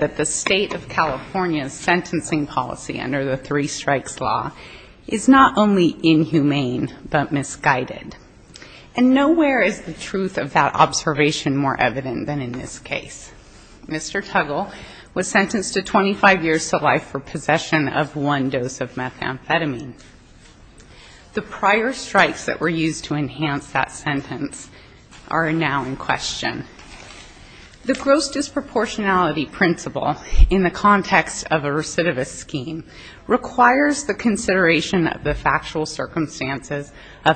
The State of California's sentencing policy under the Three Strikes Law is not only inhumane, but misguided. And nowhere is the truth of that observation more evident than in this case. Mr. Tuggle was sentenced to 25 years to life for possession of one dose of methamphetamine. The prior strikes that were used to enhance that sentence are now in question. The gross extent of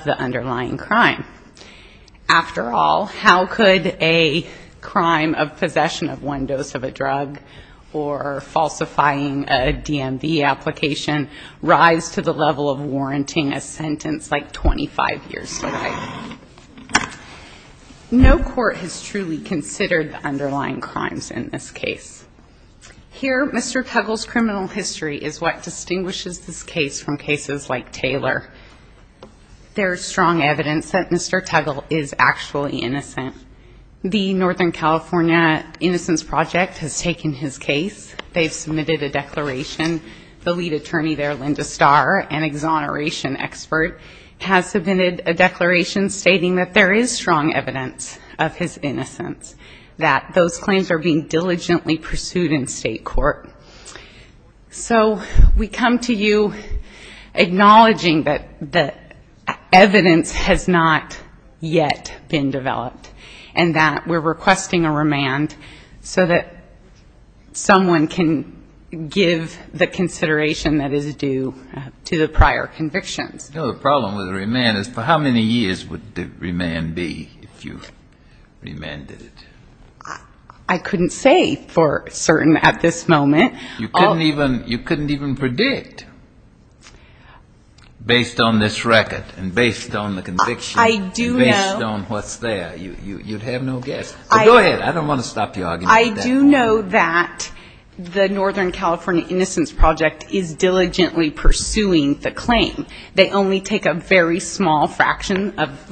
the underlying crime. After all, how could a crime of possession of one dose of a drug or falsifying a DMV application rise to the level of warranting a sentence like 25 years to life? No court has truly considered the underlying crimes in this case. Here, Mr. Tuggle's innocence has been proven. There is strong evidence that Mr. Tuggle is actually innocent. The Northern California Innocence Project has taken his case. They've submitted a declaration. The lead attorney there, Linda Starr, an exoneration expert, has submitted a declaration stating that there is strong evidence of his innocence, that those claims are being diligently pursued in state court. So we come to you acknowledging that evidence has not yet been developed, and that we're requesting a remand so that someone can give the consideration that is due to the prior convictions. No, the problem with a remand is for how many years would the remand be if you remanded it? I couldn't say for certain at this moment. You couldn't even predict? Based on this record and based on the conviction? I do know. Based on what's there. You'd have no guess. Go ahead. I don't want to stop you arguing. I do know that the Northern California Innocence Project is diligently pursuing the claim. They only take a very small fraction of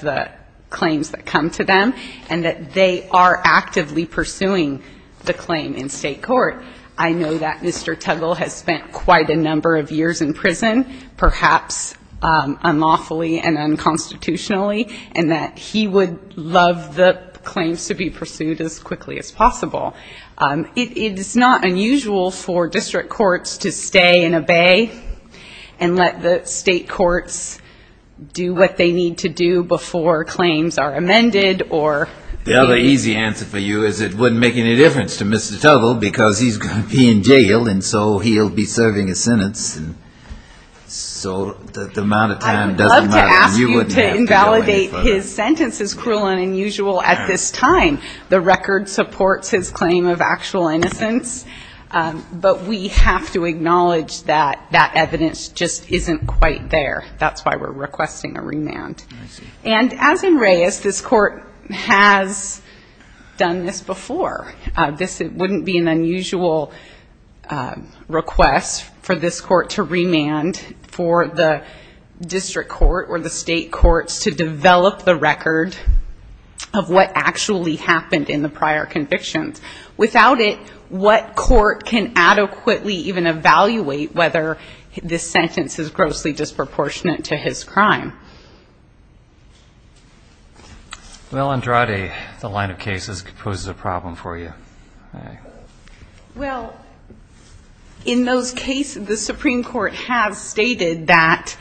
the claims that come to them, and that they are actively pursuing the claim in state court. I know that Mr. Tuggle has spent quite a number of years in prison, perhaps unlawfully and unconstitutionally, and that he would love the claims to be pursued as quickly as possible. It is not unusual for district courts to stay and obey and let the state courts do what they need to do before claims are amended or The other easy answer for you is it wouldn't make any difference to Mr. Tuggle because he's going to be in jail, and so he'll be serving a sentence, and so the amount of time doesn't matter. I wouldn't ask you to invalidate his sentence. It's cruel and unusual at this time. The record supports his claim of actual innocence, but we have to acknowledge that that evidence just isn't quite there. That's why we're requesting a remand. And as in Reyes, this court has done this before. This wouldn't be an unusual request for this court to remand for the district court or the state courts to develop the record of what actually happened in the prior convictions. Without it, what court can adequately even evaluate whether this sentence is grossly disproportionate to his crime? Well, Andrade, the line of cases poses a problem for you. Well, in those cases, the Supreme Court has stated that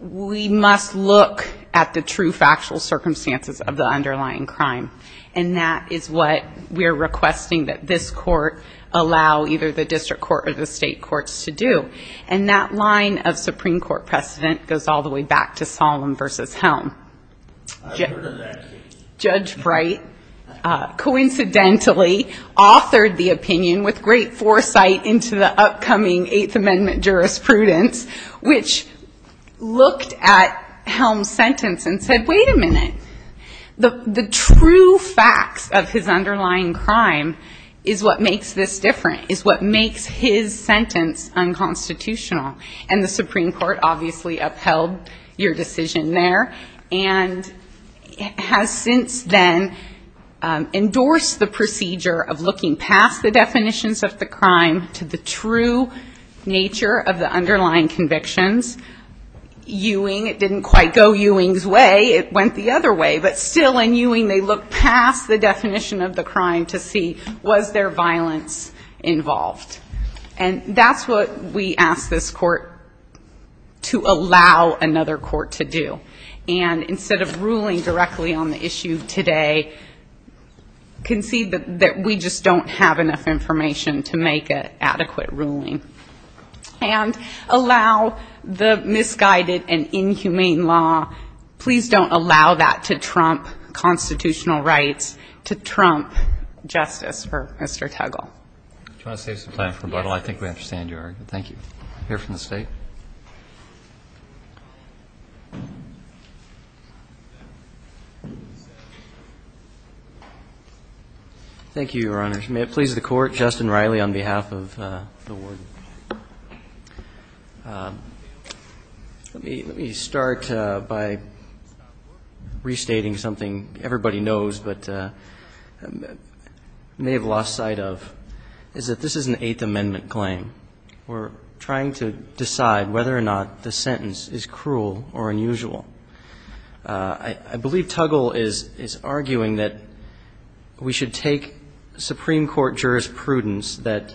we must look at the true factual circumstances of the underlying crime, and that is what we're requesting that this court allow either the district court or the state courts to do. And that line of Supreme Court precedent goes all the way back to Solemn v. Helm. I've heard of that case. Judge Bright coincidentally authored the opinion with great foresight into the upcoming Eighth Amendment jurisprudence, which looked at Helm's sentence and said, wait a minute. The true facts of his underlying crime is what makes this different, is what makes his sentence unconstitutional. And the Supreme Court obviously upheld your decision there, and has since then endorsed the procedure of looking past the definitions of the crime to the true nature of the underlying convictions. Ewing, it didn't quite go Ewing's way. It went the other way. But that's what we ask this court to allow another court to do. And instead of ruling directly on the issue today, concede that we just don't have enough information to make an adequate ruling. And allow the misguided and inhumane law, please don't allow that to trump constitutional rights, to trump justice for Mr. Tuggle. Do you want to save some time for rebuttal? I think we understand your argument. Thank you. I'll hear from the State. Thank you, Your Honors. May it please the Court, Justin Riley on behalf of the Board. Let me start by restating something everybody knows but may have lost sight of. Is that this is an Eighth Amendment claim. We're trying to decide whether or not the sentence is cruel or unusual. I believe Tuggle is arguing that we should take Supreme Court jurisprudence that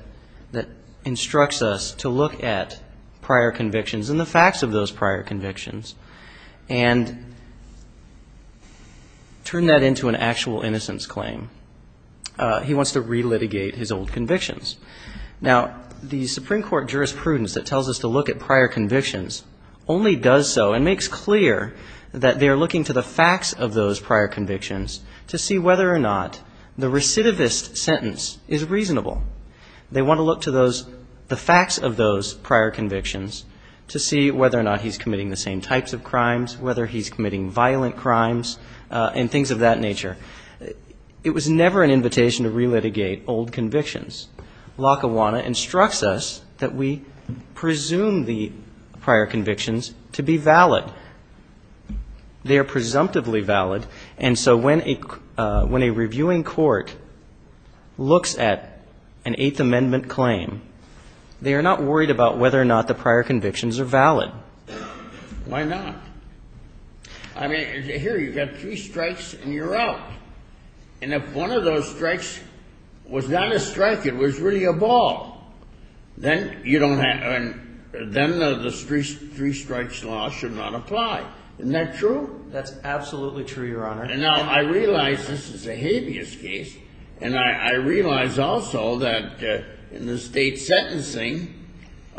instructs us to look at prior convictions and the facts of those prior convictions and turn that into an actual innocence claim. He wants to relitigate his old conviction. Now, the Supreme Court jurisprudence that tells us to look at prior convictions only does so and makes clear that they're looking to the facts of those prior convictions to see whether or not the recidivist sentence is reasonable. They want to look to those, the facts of those prior convictions to see whether or not he's committing the same types of crimes, whether he's committing violent crimes and things of that nature. It was never an invitation to relitigate old convictions. Lackawanna instructs us that we presume the prior convictions to be valid. They are presumptively valid, and so when a reviewing court looks at an Eighth Amendment claim, they are not worried about whether or not the prior convictions are valid. Why not? I mean, here you've got three strikes and you're out. And if one of those strikes was not a strike, it was really a ball, then you don't have, then the three strikes law should not apply. Isn't that true? That's absolutely true, Your Honor. And now I realize this is a habeas case, and I realize also that in the state sentencing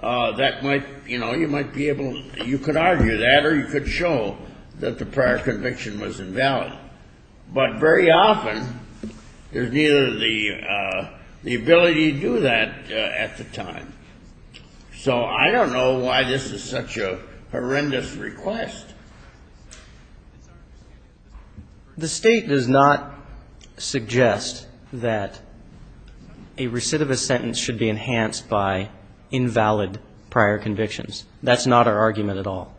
that might, you know, you might be able to look at the prior conviction and say, well, you could argue that or you could show that the prior conviction was invalid. But very often, there's neither the ability to do that at the time. So I don't know why this is such a horrendous request. The state does not suggest that a recidivist sentence should be enhanced by invalid prior convictions. That's not our argument. That's not our argument at all.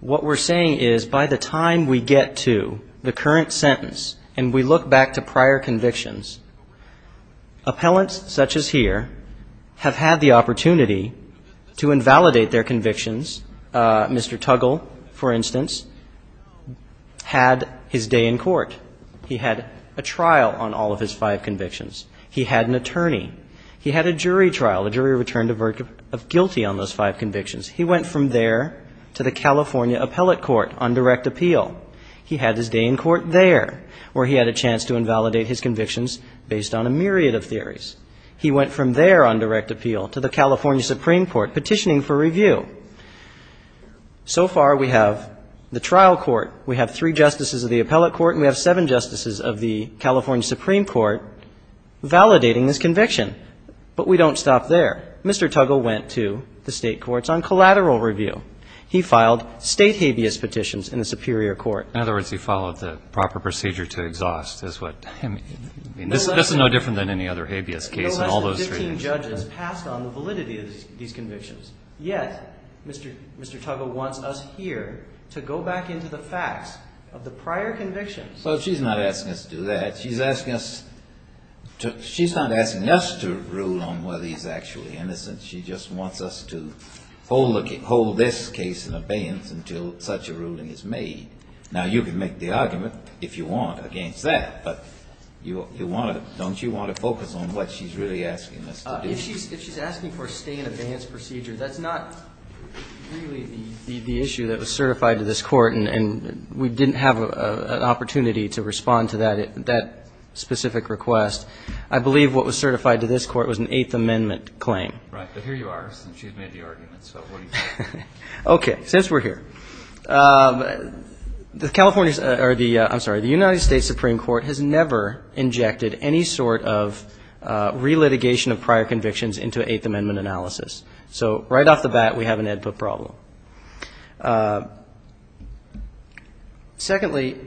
What we're saying is by the time we get to the current sentence and we look back to prior convictions, appellants such as here have had the opportunity to invalidate their convictions. Mr. Tuggle, for instance, had his day in court. He had a trial on all of his five convictions. He had an attorney. He had a jury trial. The jury returned a verdict of guilty on those five convictions. He went from there to the California Appellate Court on direct appeal. He had his day in court there, where he had a chance to invalidate his convictions based on a myriad of theories. He went from there on direct appeal to the California Supreme Court petitioning for review. So far, we have the trial court, we have three justices of the appellate court, and we have seven justices of the California Supreme Court validating his conviction. But we don't stop there. Mr. Tuggle went to the State courts on collateral review. He filed State habeas petitions in the Superior Court. In other words, he followed the proper procedure to exhaust is what he meant. This is no different than any other habeas case in all those three. No less than 15 judges passed on the validity of these convictions. Yet, Mr. Tuggle wants us here to go back into the facts of the prior convictions. Well, she's not asking us to do that. She's asking us to rule on whether he's actually a criminal. She's not asking us to rule on whether he's actually innocent. She just wants us to hold this case in abeyance until such a ruling is made. Now, you can make the argument, if you want, against that, but don't you want to focus on what she's really asking us to do? If she's asking for a stay in abeyance procedure, that's not really the issue that was certified to this court, and we didn't have an opportunity to respond to that specific request. I believe what was certified to this court was an Eighth Amendment claim. Right. But here you are, since she's made the argument. So what do you think? Okay. Since we're here, the California's or the — I'm sorry, the United States Supreme Court has never injected any sort of relitigation of prior convictions into an Eighth Amendment analysis. So right off the bat, we have an Edput problem. Secondly,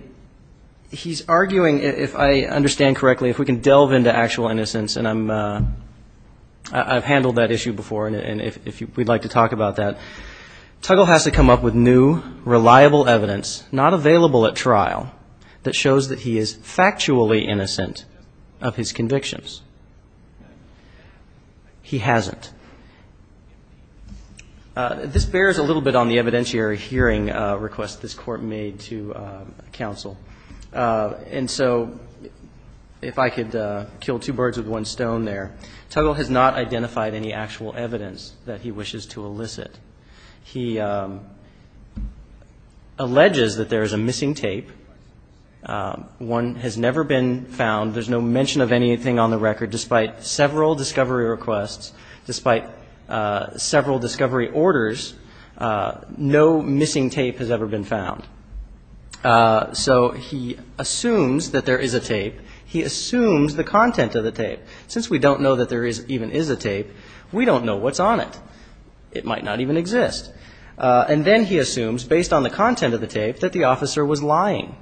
he's arguing, if I understand correctly, if we can delve into actual innocence, and I'm — I've handled this case before. I've handled that issue before, and if you — we'd like to talk about that. Tuggle has to come up with new, reliable evidence, not available at trial, that shows that he is factually innocent of his convictions. He hasn't. This bears a little bit on the evidentiary hearing request this court made to counsel. And so if I could kill two birds with one stone there. Tuggle has not identified any actual evidence that he wishes to elicit. He alleges that there is a missing tape. One has never been found. There's no mention of anything on the record. Despite several discovery requests, despite several discovery orders, no missing tape has ever been found. So he assumes that there is a tape. He assumes the content of the tape. Since we don't know that there even is a tape, we don't know what's on it. It might not even exist. And then he assumes, based on the content of the tape, that the officer was lying.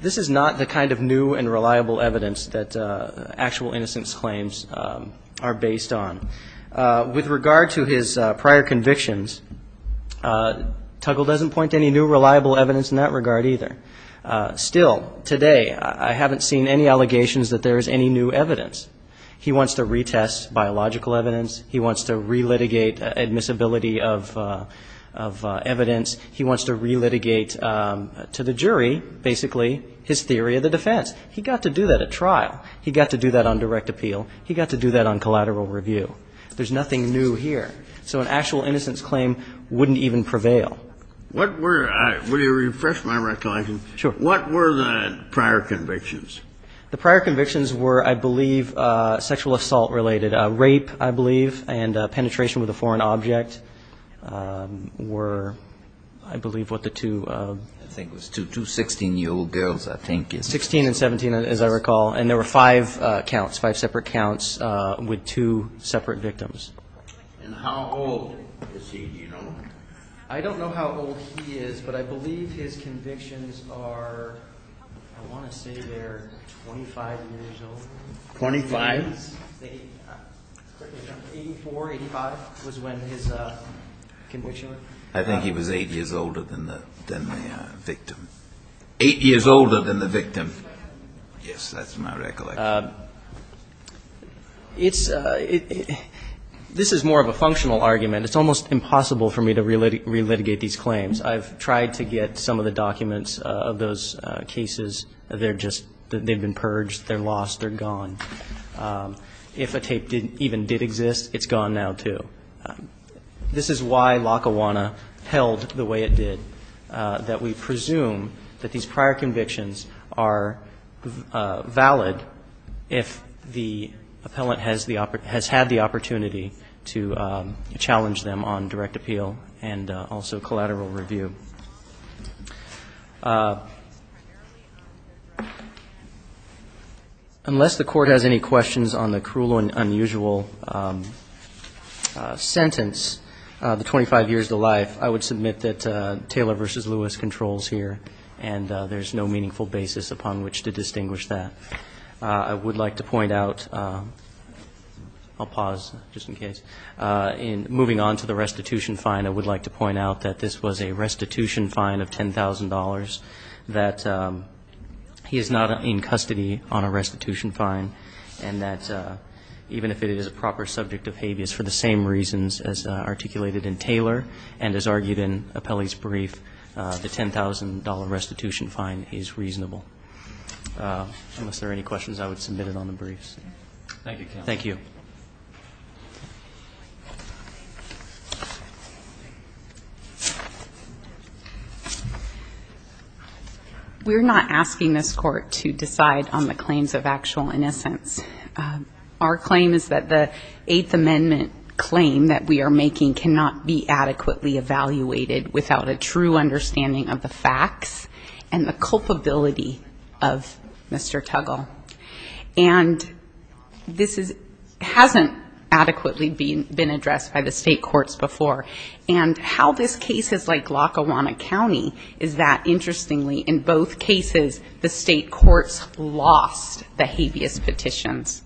This is not the kind of new and reliable evidence that actual innocence claims are based on. With regard to his prior convictions, Tuggle doesn't point to any new, reliable evidence in that regard either. Still, today, I haven't seen any allegations that there is any new evidence. He wants to retest biological evidence. He wants to relitigate admissibility of evidence. He wants to relitigate to the jury, basically, his theory of the defense. He got to do that at trial. He got to do that on direct appeal. He got to do that on collateral review. There's nothing new here. So an actual innocence claim wouldn't even prevail. What were the prior convictions? The prior convictions were, I believe, sexual assault-related. Rape, I believe, and penetration with a foreign object were, I believe, what the two. I think it was two 16-year-old girls, I think. 16 and 17, as I recall. And there were five counts, five separate counts with two separate victims. And how old is he, do you know? I don't know how old he is, but I believe his convictions are, I want to say they're 25 years old. Twenty-five? 84, 85 was when his conviction was. I think he was 8 years older than the victim. Eight years older than the victim. Yes, that's my recollection. This is more of a functional argument. It's almost impossible for me to relitigate these claims. I've tried to get some of the documents of those cases. They're just they've been purged. They're lost. They're gone. If a tape even did exist, it's gone now, too. This is why Lackawanna held the way it did, that we presume that these prior convictions are valid if the appellant has had the opportunity to challenge them on direct appeal and also collateral review. Unless the Court has any questions on the cruel and unusual sentence, the 25 years to life, I would submit that Taylor v. Lewis controls here, and there's no meaningful basis upon which to distinguish that. I would like to point out, I'll pause just in case, in moving on to the restitution fine, I would like to point out that this was a restitution fine of $10,000, that he is not in custody on a restitution fine, and that even if it is a proper subject of habeas for the same reasons as articulated in Taylor and as argued in Apelli's brief, the $10,000 restitution fine is reasonable. Unless there are any questions, I would submit it on the briefs. Thank you, counsel. Thank you. We're not asking this Court to decide on the claims of actual innocence. Our claim is that the Eighth Amendment claim that we are making cannot be adequately evaluated without a true understanding of the facts and the culpability of Mr. Tuggle. And this hasn't adequately been addressed by the state courts before. And how this case is like Lackawanna County is that, interestingly, in both cases, the state courts lost the habeas petitions.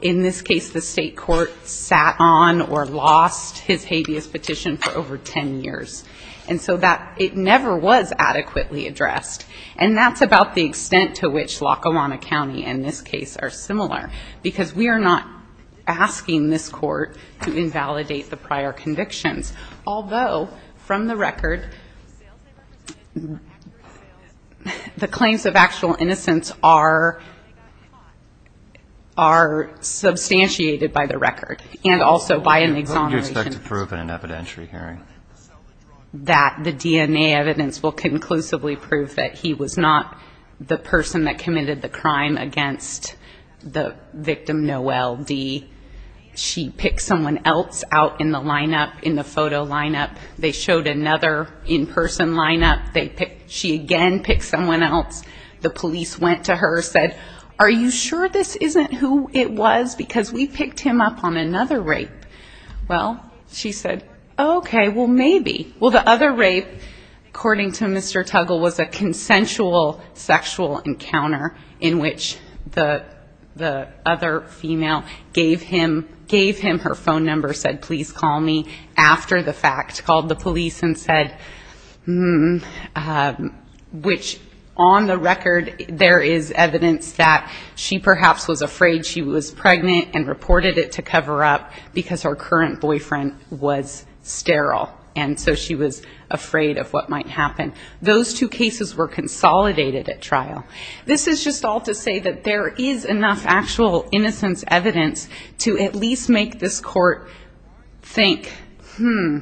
In this case, the state court sat on or lost his habeas petition for over 10 years. And so it never was adequately addressed. And that's about the extent to which Lackawanna County and this case are similar because we are not asking this Court to invalidate the prior convictions. Although, from the record, the claims of actual innocence are substantiated by the record and also by an exoneration. What do you expect to prove in an evidentiary hearing? That the DNA evidence will conclusively prove that he was not the person that committed the crime against the victim Noelle D. She picked someone else out in the lineup, in the photo lineup. They showed another in-person lineup. She again picked someone else. The police went to her, said, are you sure this isn't who it was because we picked him up on another rape? Well, she said, okay, well, maybe. Well, the other rape, according to Mr. Tuggle, was a consensual sexual encounter in which the other female gave him her phone number, said, please call me after the fact, called the police and said, which on the record there is evidence that she perhaps was afraid she was pregnant and reported it to cover up because her current boyfriend was sterile and so she was afraid of what might happen. Those two cases were consolidated at trial. This is just all to say that there is enough actual innocence evidence to at least make this court think, hmm,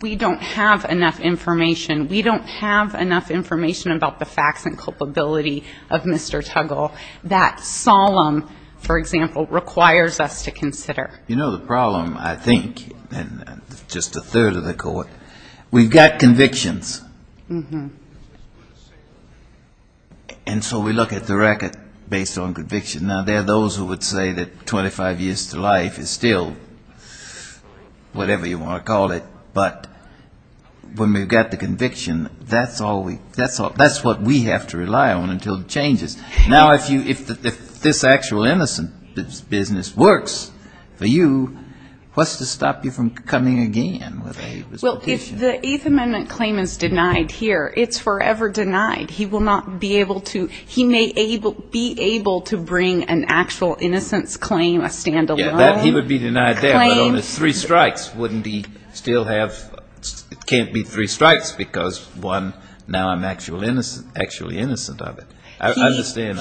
we don't have enough information. We don't have enough information about the facts and culpability of Mr. Tuggle. That solemn, for example, requires us to consider. You know, the problem, I think, and just a third of the court, we've got convictions. And so we look at the record based on conviction. Now, there are those who would say that 25 years to life is still whatever you want to call it, but when we've got the conviction, that's what we have to rely on until it changes. Now, if this actual innocence business works for you, what's to stop you from coming again with a petition? Well, if the Eighth Amendment claim is denied here, it's forever denied. He will not be able to be able to bring an actual innocence claim, a standalone claim. Yeah, he would be denied that, but on his three strikes, wouldn't he still have, it can't be three strikes because, one, now I'm actually innocent of it.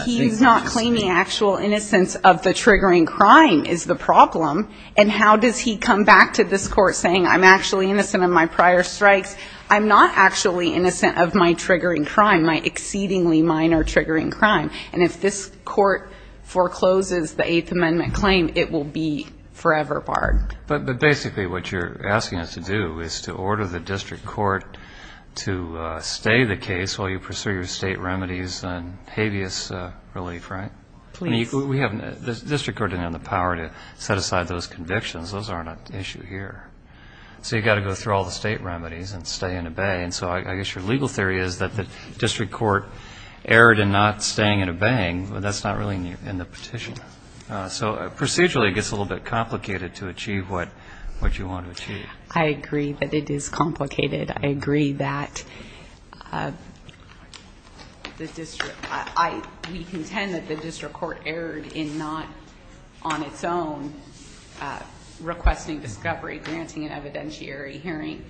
He's not claiming actual innocence of the triggering crime is the problem, and how does he come back to this court saying I'm actually innocent of my prior strikes? I'm not actually innocent of my triggering crime, my exceedingly minor triggering crime. And if this court forecloses the Eighth Amendment claim, it will be forever barred. But basically what you're asking us to do is to order the district court to stay the case while you pursue your state remedies and habeas relief, right? Please. The district court doesn't have the power to set aside those convictions. Those aren't an issue here. So you've got to go through all the state remedies and stay and obey. And so I guess your legal theory is that the district court erred in not staying and obeying, but that's not really in the petition. So procedurally it gets a little bit complicated to achieve what you want to achieve. I agree that it is complicated. I agree that we contend that the district court erred in not on its own requesting discovery, granting an evidentiary hearing.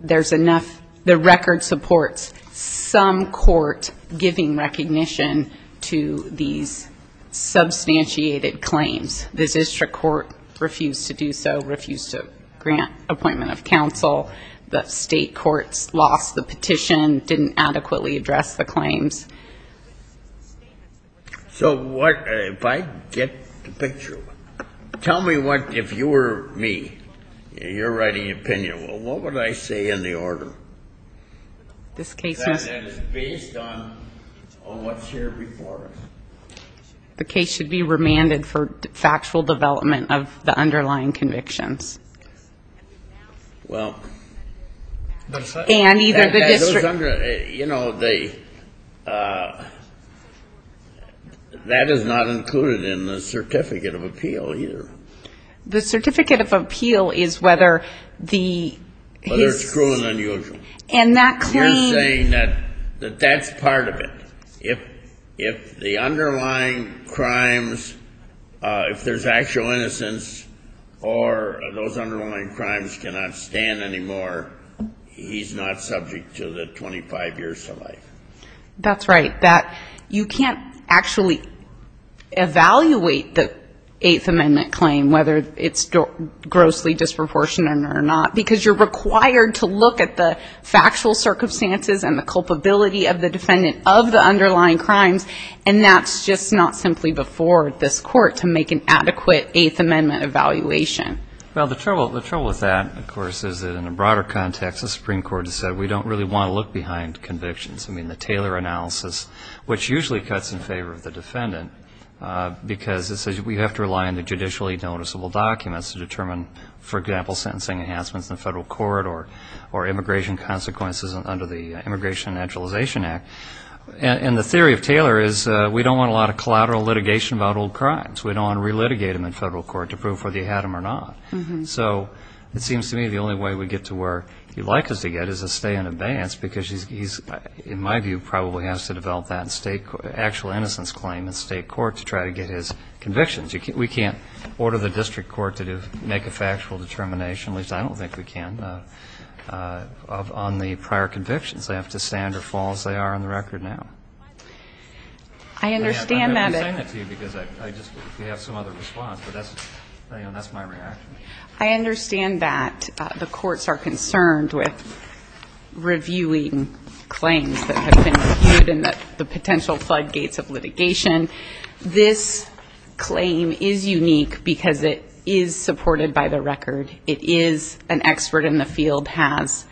There's enough. The record supports some court giving recognition to these substantiated claims. The district court refused to do so, refused to grant appointment of counsel. The state courts lost the petition, didn't adequately address the claims. So if I get the picture, tell me what, if you were me, your writing opinion, what would I say in the order that is based on what's here before us? The case should be remanded for factual development of the underlying convictions. Well. And either the district. You know, that is not included in the certificate of appeal either. The certificate of appeal is whether the... Whether it's true and unusual. And that claim... We're saying that that's part of it. If the underlying crimes, if there's actual innocence, or those underlying crimes cannot stand anymore, he's not subject to the 25 years to life. That's right. You can't actually evaluate the Eighth Amendment claim, whether it's grossly disproportionate or not, because you're required to look at the factual circumstances and the culpability of the defendant of the underlying crimes, and that's just not simply before this court to make an adequate Eighth Amendment evaluation. Well, the trouble with that, of course, is that in a broader context the Supreme Court has said we don't really want to look behind convictions. I mean, the Taylor analysis, which usually cuts in favor of the defendant, because it says we have to rely on the judicially noticeable documents to determine, for example, sentencing enhancements in the federal court or immigration consequences under the Immigration and Naturalization Act. And the theory of Taylor is we don't want a lot of collateral litigation about old crimes. We don't want to relitigate them in federal court to prove whether you had them or not. So it seems to me the only way we get to where he'd like us to get is a stay in advance, because he's, in my view, probably has to develop that actual innocence claim in state court to try to get his convictions. We can't order the district court to make a factual determination, at least I don't think we can, on the prior convictions. They have to stand or fall as they are on the record now. I understand that. I'm saying that to you because I just have some other response, but that's my reaction. I understand that the courts are concerned with reviewing claims that have been reviewed and the potential floodgates of litigation. This claim is unique because it is supported by the record. It is an expert in the field has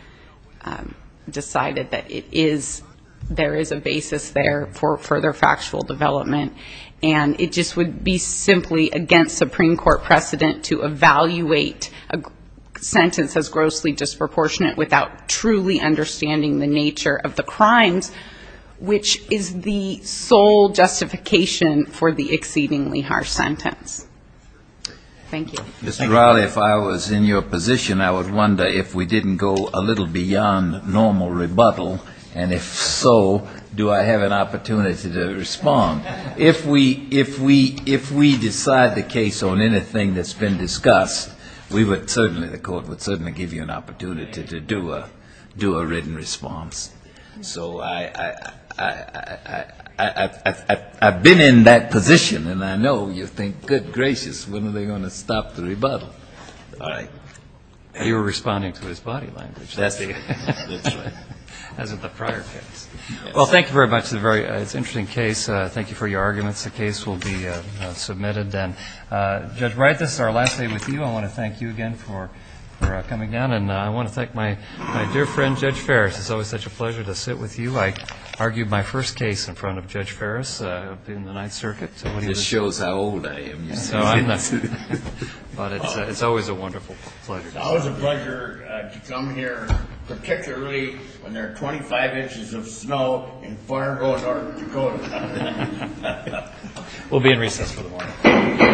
decided that there is a basis there for further factual development. And it just would be simply against Supreme Court precedent to evaluate a sentence as grossly disproportionate understanding the nature of the crimes, which is the sole justification for the exceedingly harsh sentence. Thank you. Mr. Riley, if I was in your position, I would wonder if we didn't go a little beyond normal rebuttal, and if so, do I have an opportunity to respond? If we decide the case on anything that's been discussed, we would certainly, the court would certainly give you an opportunity to do a written response. So I've been in that position, and I know you think, good gracious, when are they going to stop the rebuttal. You were responding to his body language. That's right. As in the prior case. Well, thank you very much. It's an interesting case. Thank you for your arguments. The case will be submitted then. Judge Wright, this is our last day with you. I want to thank you again for coming down, and I want to thank my dear friend, Judge Ferris. It's always such a pleasure to sit with you. I argued my first case in front of Judge Ferris in the Ninth Circuit. This shows how old I am. It's always a wonderful pleasure. It's always a pleasure to come here, particularly when there are 25 inches of snow in Fargo, North Dakota. We'll be in recess for the morning.